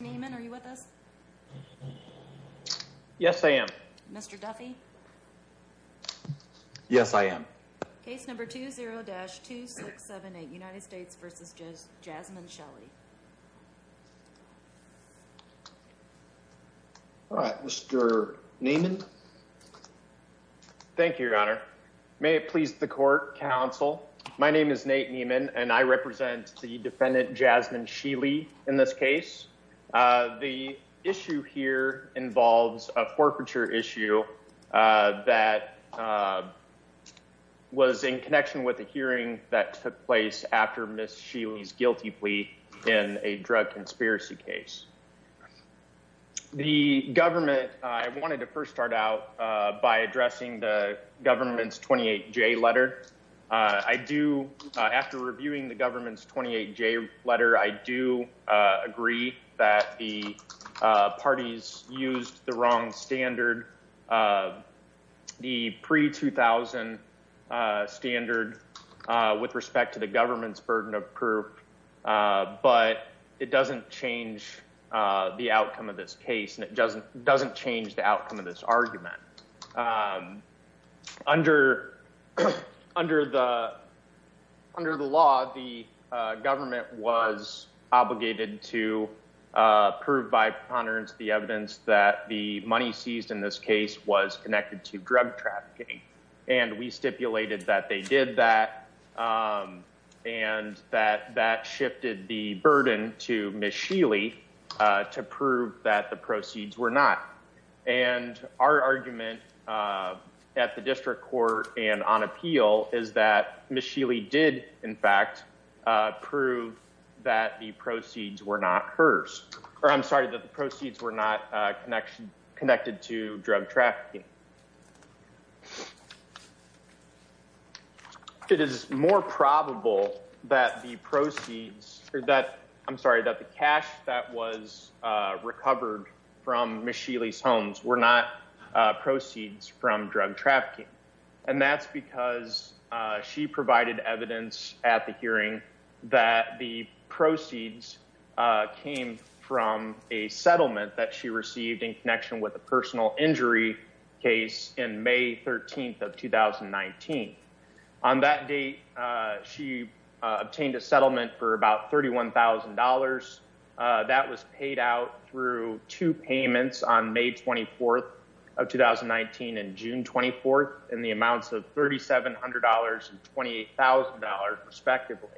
Neiman. Are you with us? Yes, I am. Mr Duffy. Yes, I am. Case number 20-2678 United States versus just Jasmine Shelly. All right, Mr Neiman. Thank you, Your Honor. May it please the court counsel. My name is Nate Neiman, and I represent the defendant Jasmine Sheely in this case. The issue here involves a forfeiture issue that was in connection with a hearing that took place after Miss Sheely's guilty plea in a drug conspiracy case. The government, I wanted to first start out by addressing the government's 28-J letter. I do, after reviewing the government's 28-J letter, I do agree that the parties used the wrong standard, the pre-2000 standard, with respect to the government's burden of proof. But it doesn't change the outcome of this case, and it doesn't change the outcome of this argument. Under the law, the government was obligated to prove by preponderance the evidence that the money seized in this case was connected to drug trafficking. And we stipulated that they did that, and that that shifted the burden to Miss Sheely to prove that the proceeds were not. And our argument at the district court and on appeal is that Miss Sheely did, in fact, prove that the proceeds were not hers. Or I'm sorry, that the proceeds were not connected to drug trafficking. It is more probable that the proceeds, or that, I'm sorry, that the cash that was recovered from Miss Sheely's homes were not proceeds from drug trafficking. And that's because she provided evidence at the hearing that the proceeds came from a settlement that she received in connection with a personal injury case in May 13th of 2019. On that date, she obtained a settlement for about $31,000. That was paid out through two payments on May 24th of 2019 and June 24th in the amounts of $3,700 and $28,000, respectively.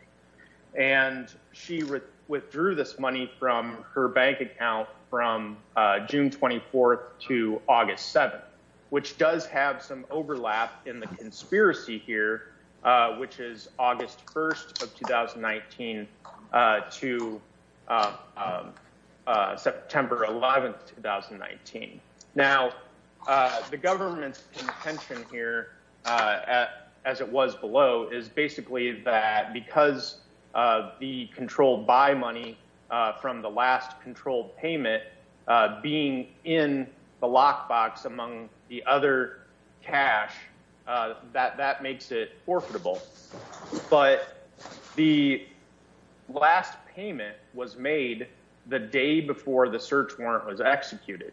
And she withdrew this money from her bank account from June 24th to August 7th, which does have some overlap in the conspiracy here, which is August 1st of 2019 to September 11th, 2019. Now, the government's intention here, as it was below, is basically that because of the controlled buy money from the last controlled payment being in the lockbox among the other cash, that makes it forfeitable. But the last payment was made the day before the search warrant was executed.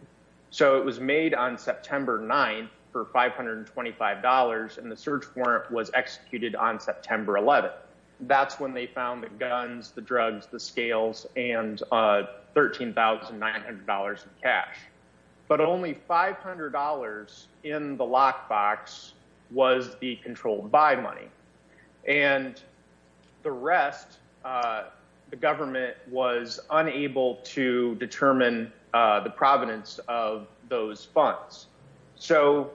So it was made on September 9th for $525, and the search warrant was executed on September 11th. That's when they found the guns, the drugs, the scales, and $13,900 in cash. But only $500 in the lockbox was the controlled buy money. And the rest, the government was unable to determine the provenance of those funds. So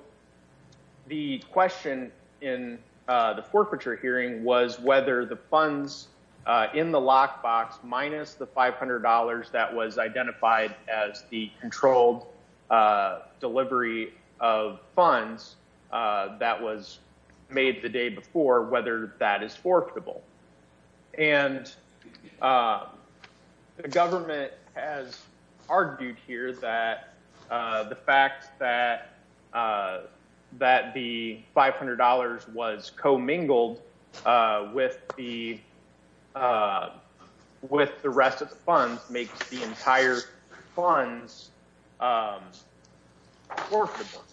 the question in the forfeiture hearing was whether the funds in the lockbox minus the $500 that was identified as the controlled delivery of funds that was made the day before, whether that is forfeitable. And the government has argued here that the fact that the $500 was commingled with the rest of the funds makes the entire funds forfeitable.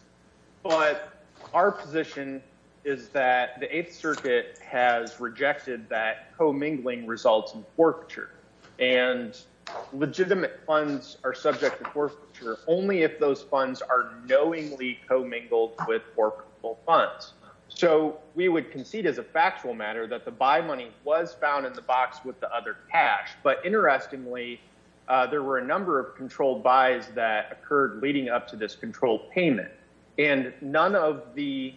But our position is that the Eighth Circuit has rejected that commingling results in forfeiture. And legitimate funds are subject to forfeiture only if those funds are knowingly commingled with forfeitable funds. So we would concede as a factual matter that the buy money was found in the box with the other cash. But interestingly, there were a number of controlled buys that occurred leading up to this controlled payment. And none of the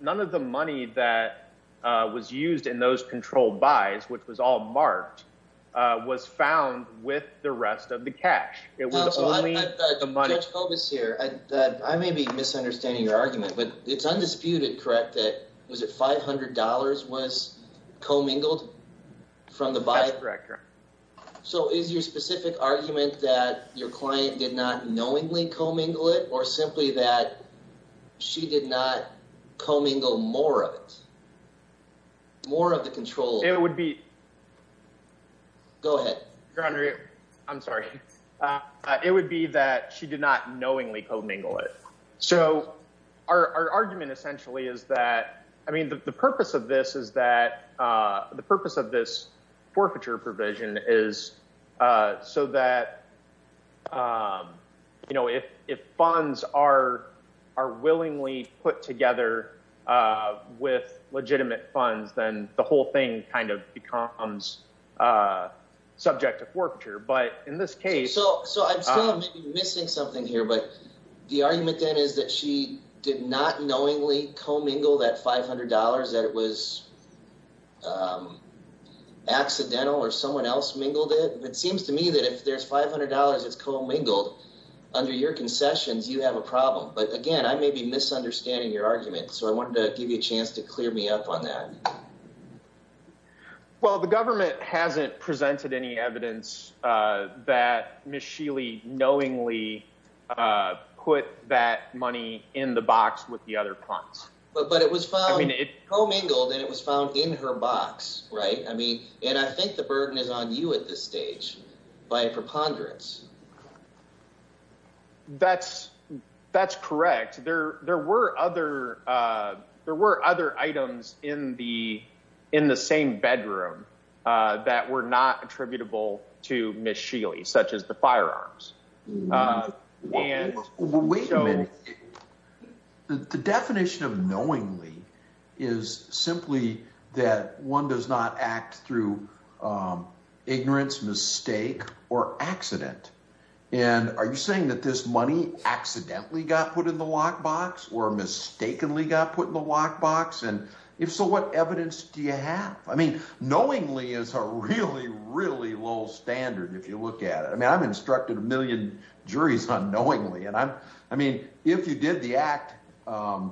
money that was used in those controlled buys, which was all marked, was found with the rest of the cash. It was only the money. Judge Kobus here, I may be misunderstanding your argument, but it's undisputed, correct, that $500 was commingled from the buy? That's correct, Your Honor. So is your specific argument that your client did not knowingly commingle it, or simply that she did not commingle more of it, more of the control? It would be... Go ahead. Your Honor, I'm sorry. It would be that she did not the purpose of this is that the purpose of this forfeiture provision is so that you know, if funds are willingly put together with legitimate funds, then the whole thing kind of becomes subject to forfeiture. But in this case... So I'm still missing something here, but the argument then is that she did not knowingly commingle that $500, that it was accidental, or someone else mingled it. It seems to me that if there's $500 that's commingled under your concessions, you have a problem. But again, I may be misunderstanding your argument, so I wanted to give you a chance to clear me up on that. Well, the government hasn't presented any evidence that Ms. Sheely knowingly put that money in the box with the other funds. But it was found... I mean it... Commingled, and it was found in her box, right? I mean, and I think the burden is on you at this stage by preponderance. That's correct. There were other items in the same bedroom that were not attributable to Ms. Sheely, such as the firearms. Wait a minute. The definition of knowingly is simply that one does not act through ignorance, mistake, or accident. And are you saying that this money accidentally got put in the lockbox, or mistakenly got put in the lockbox? And if so, what evidence do you have? I mean, knowingly is a really, really low standard if you look at it. I mean, I've instructed a million juries on knowingly. And I mean, if you did the act, you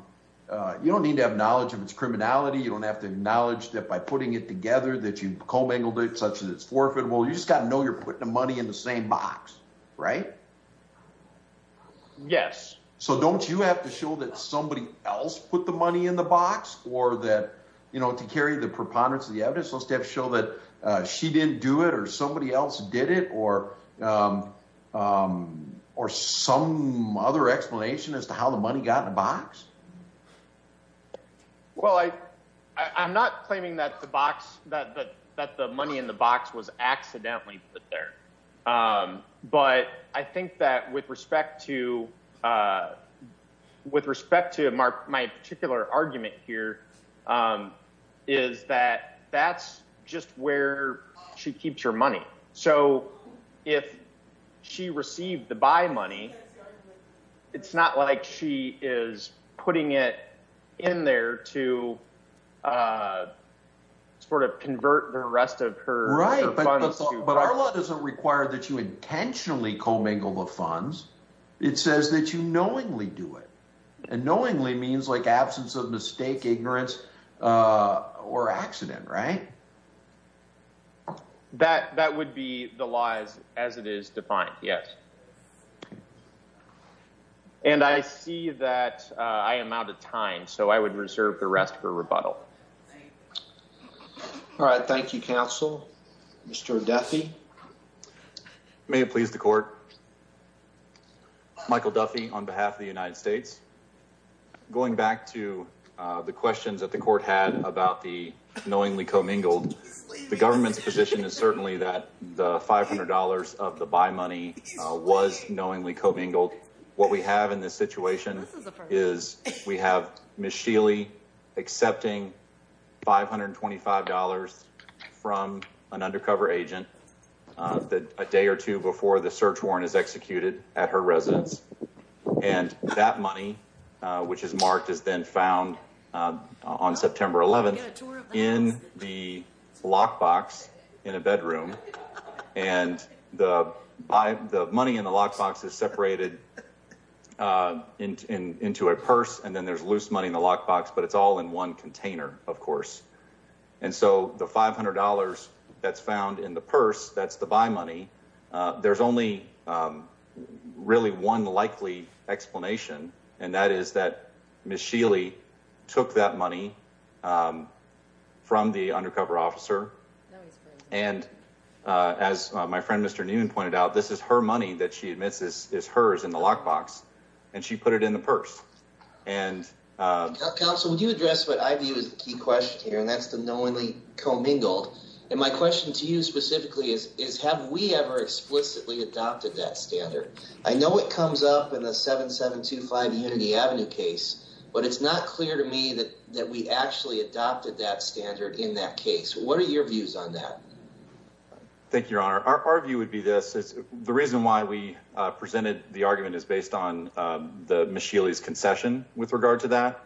don't need to have knowledge of its criminality. You don't have to acknowledge that by putting it together that you commingled it such that it's forfeitable. You just got to know you're putting the money in the same box, right? Yes. So don't you have to show that somebody else put the money in the box? Or that, you know, to carry the preponderance of the evidence, let's just show that she didn't do it, or somebody else did it, or some other explanation as to how the money got in the box? Well, I'm not claiming that the money in the box was accidentally put there. But I think that with respect to my particular argument here, is that that's just where she keeps her money. So if she received the buy money, it's not like she is putting it in there to sort of convert the rest of her funds. But our law doesn't require that you intentionally commingle the funds. It says that you knowingly do it. And knowingly means like absence of mistake, ignorance, or accident, right? That would be the laws as it is defined. Yes. And I see that I am out of time. So I would reserve the rest for rebuttal. All right. Thank you, counsel. Mr. Duffy. May it please the court. Michael Duffy on behalf of the United States. Going back to the questions that the court had about the knowingly commingled, the government's position is certainly that the $500 of the buy money was knowingly commingled. What we have in $525 from an undercover agent a day or two before the search warrant is executed at her residence. And that money, which is marked, is then found on September 11th in the lockbox in a bedroom. And the money in the lockbox is separated into a purse. And then there's loose money in the locker, of course. And so the $500 that's found in the purse, that's the buy money. There's only really one likely explanation. And that is that Ms. Shealy took that money from the undercover officer. And as my friend, Mr. Newman pointed out, this is her money that she admits is hers in the lockbox. And she put it in the purse. And counsel, would you address what is the key question here? And that's the knowingly commingled. And my question to you specifically is, have we ever explicitly adopted that standard? I know it comes up in the 7725 Unity Avenue case, but it's not clear to me that we actually adopted that standard in that case. What are your views on that? Thank you, Your Honor. Our view would be this. The reason why we presented the argument is the Ms. Shealy's concession with regard to that.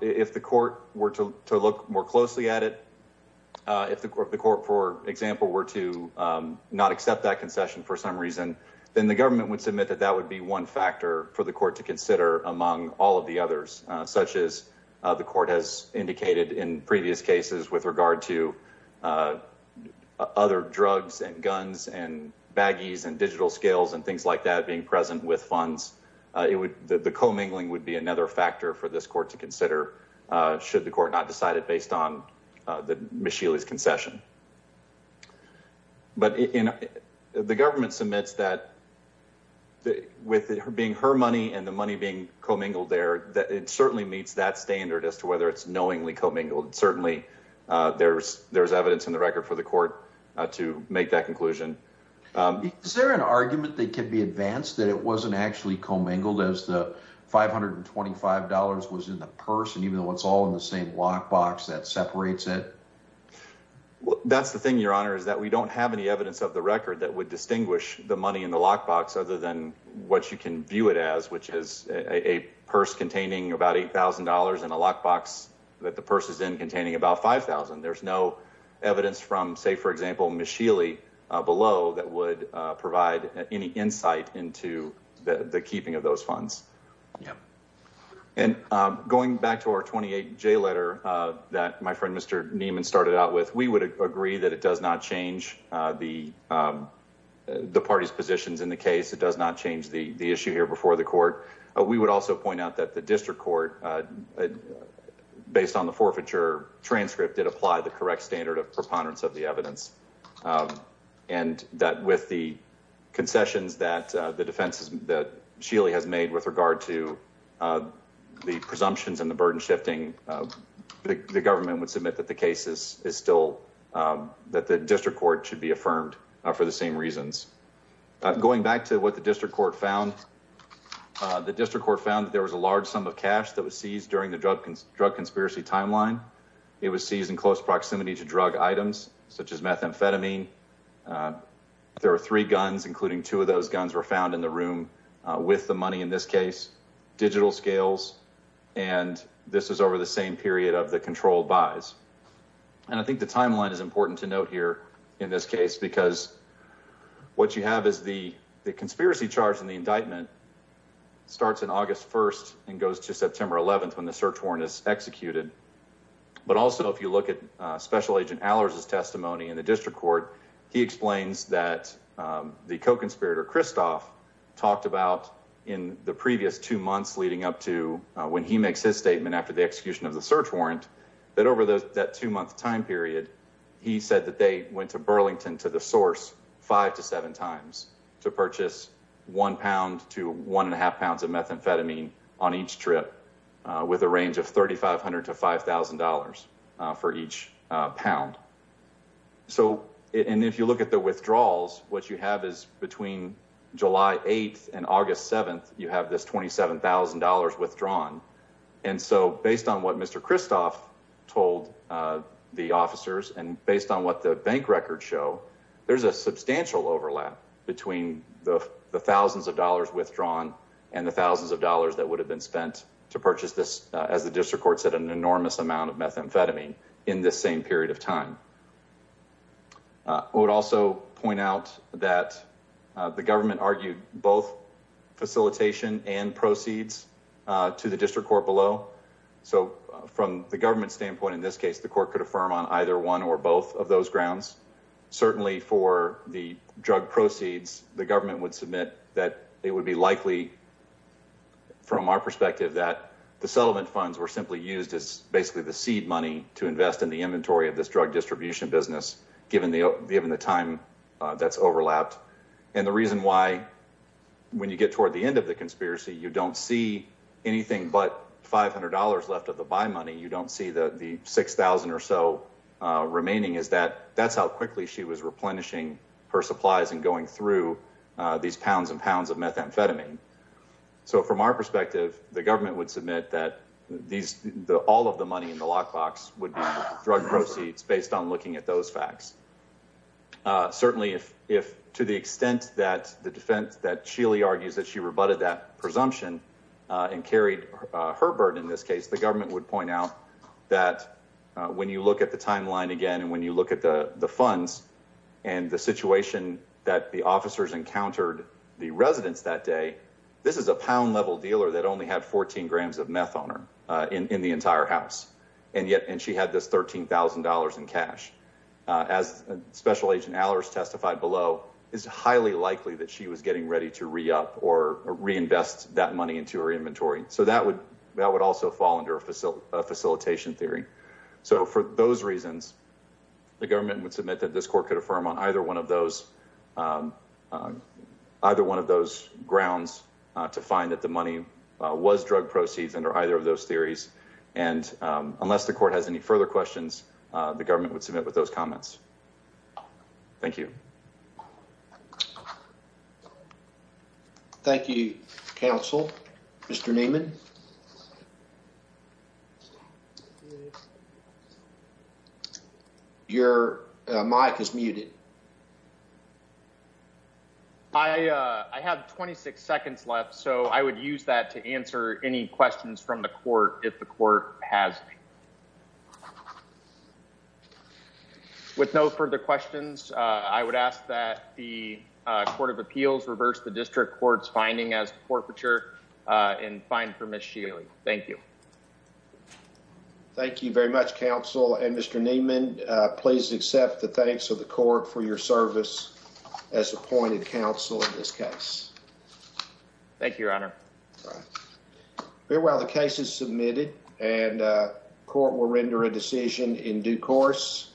If the court were to look more closely at it, if the court, for example, were to not accept that concession for some reason, then the government would submit that that would be one factor for the court to consider among all of the others, such as the court has indicated in previous cases with regard to other drugs and guns and baggies and digital scales and things like that being present with funds. The commingling would be another factor for this court to consider, should the court not decide it based on Ms. Shealy's concession. But the government submits that with it being her money and the money being commingled there, it certainly meets that standard as to whether it's knowingly commingled. Certainly, there's evidence in the record for the court to make that conclusion. Is there an argument that could be advanced that it wasn't actually commingled as the $525 was in the purse and even though it's all in the same lockbox that separates it? That's the thing, Your Honor, is that we don't have any evidence of the record that would distinguish the money in the lockbox other than what you can view it as, which is a purse containing about $8,000 and a lockbox that the purse is in containing about $5,000. There's no that would provide any insight into the keeping of those funds. And going back to our 28J letter that my friend Mr. Neiman started out with, we would agree that it does not change the party's positions in the case. It does not change the issue here before the court. We would also point out that the district court, based on the forfeiture transcript, did apply the correct standard of preponderance of the evidence and that with the concessions that the defense that Shealy has made with regard to the presumptions and the burden shifting, the government would submit that the case is still that the district court should be affirmed for the same reasons. Going back to what the district court found, the district court found that there was a large sum of cash that was seized during the drug drug conspiracy timeline. It was seized in close proximity to drug items such as methamphetamine. There were three guns, including two of those guns, were found in the room with the money in this case, digital scales, and this is over the same period of the controlled buys. And I think the timeline is important to note here in this case because what you have is the the conspiracy charge in the indictment starts on August 1st and goes to September 11th when the search warrant is executed. But also if you look at Special Agent Allers' testimony in the district court, he explains that the co-conspirator Christoph talked about in the previous two months leading up to when he makes his statement after the execution of the search warrant that over that two-month time period, he said that they went to Burlington to the source five to seven times to purchase one pound to one half pounds of methamphetamine on each trip with a range of $3,500 to $5,000 for each pound. So and if you look at the withdrawals, what you have is between July 8th and August 7th, you have this $27,000 withdrawn. And so based on what Mr. Christoph told the officers and based on what the bank records show, there's a substantial overlap between the thousands of dollars withdrawn and the thousands of dollars that would have been spent to purchase this, as the district court said, an enormous amount of methamphetamine in this same period of time. I would also point out that the government argued both facilitation and proceeds to the district court below. So from the government standpoint in this case, the court could affirm on either one or both of those grounds. Certainly for the drug proceeds, the government would submit that it would be likely from our perspective that the settlement funds were simply used as basically the seed money to invest in the inventory of this drug distribution business, given the time that's overlapped. And the reason why when you get toward the end of the conspiracy, you don't see anything but $500 left of the buy money. You don't see the 6,000 or so remaining is that that's how quickly she was replenishing her supplies and going through these pounds and pounds of methamphetamine. So from our perspective, the government would submit that all of the money in the lockbox would be drug proceeds based on looking at those facts. Certainly if to the extent that the defense that Sheely argues that she rebutted that presumption and carried her burden in this case, the government would point out that when you look at the timeline again and when you look at the situation that the officers encountered the residents that day, this is a pound level dealer that only had 14 grams of meth on her in the entire house. And yet, and she had this $13,000 in cash. As Special Agent Allers testified below, it's highly likely that she was getting ready to re-up or reinvest that money into her inventory. So that would also fall under a facilitation theory. So for those reasons, the government would submit that this court could affirm on either one of those either one of those grounds to find that the money was drug proceeds under either of those theories. And unless the court has any further questions, the government would submit with those comments. Thank you. Thank you, counsel. Mr. Neiman. Your mic is muted. I have 26 seconds left, so I would use that to answer any questions from the court if the court has any. With no further questions, I would ask that the Court of Appeals reverse the Thank you. Thank you very much, counsel. And Mr. Neiman, please accept the thanks of the court for your service as appointed counsel in this case. Thank you, Your Honor. Meanwhile, the case is submitted and court will render a decision in due course.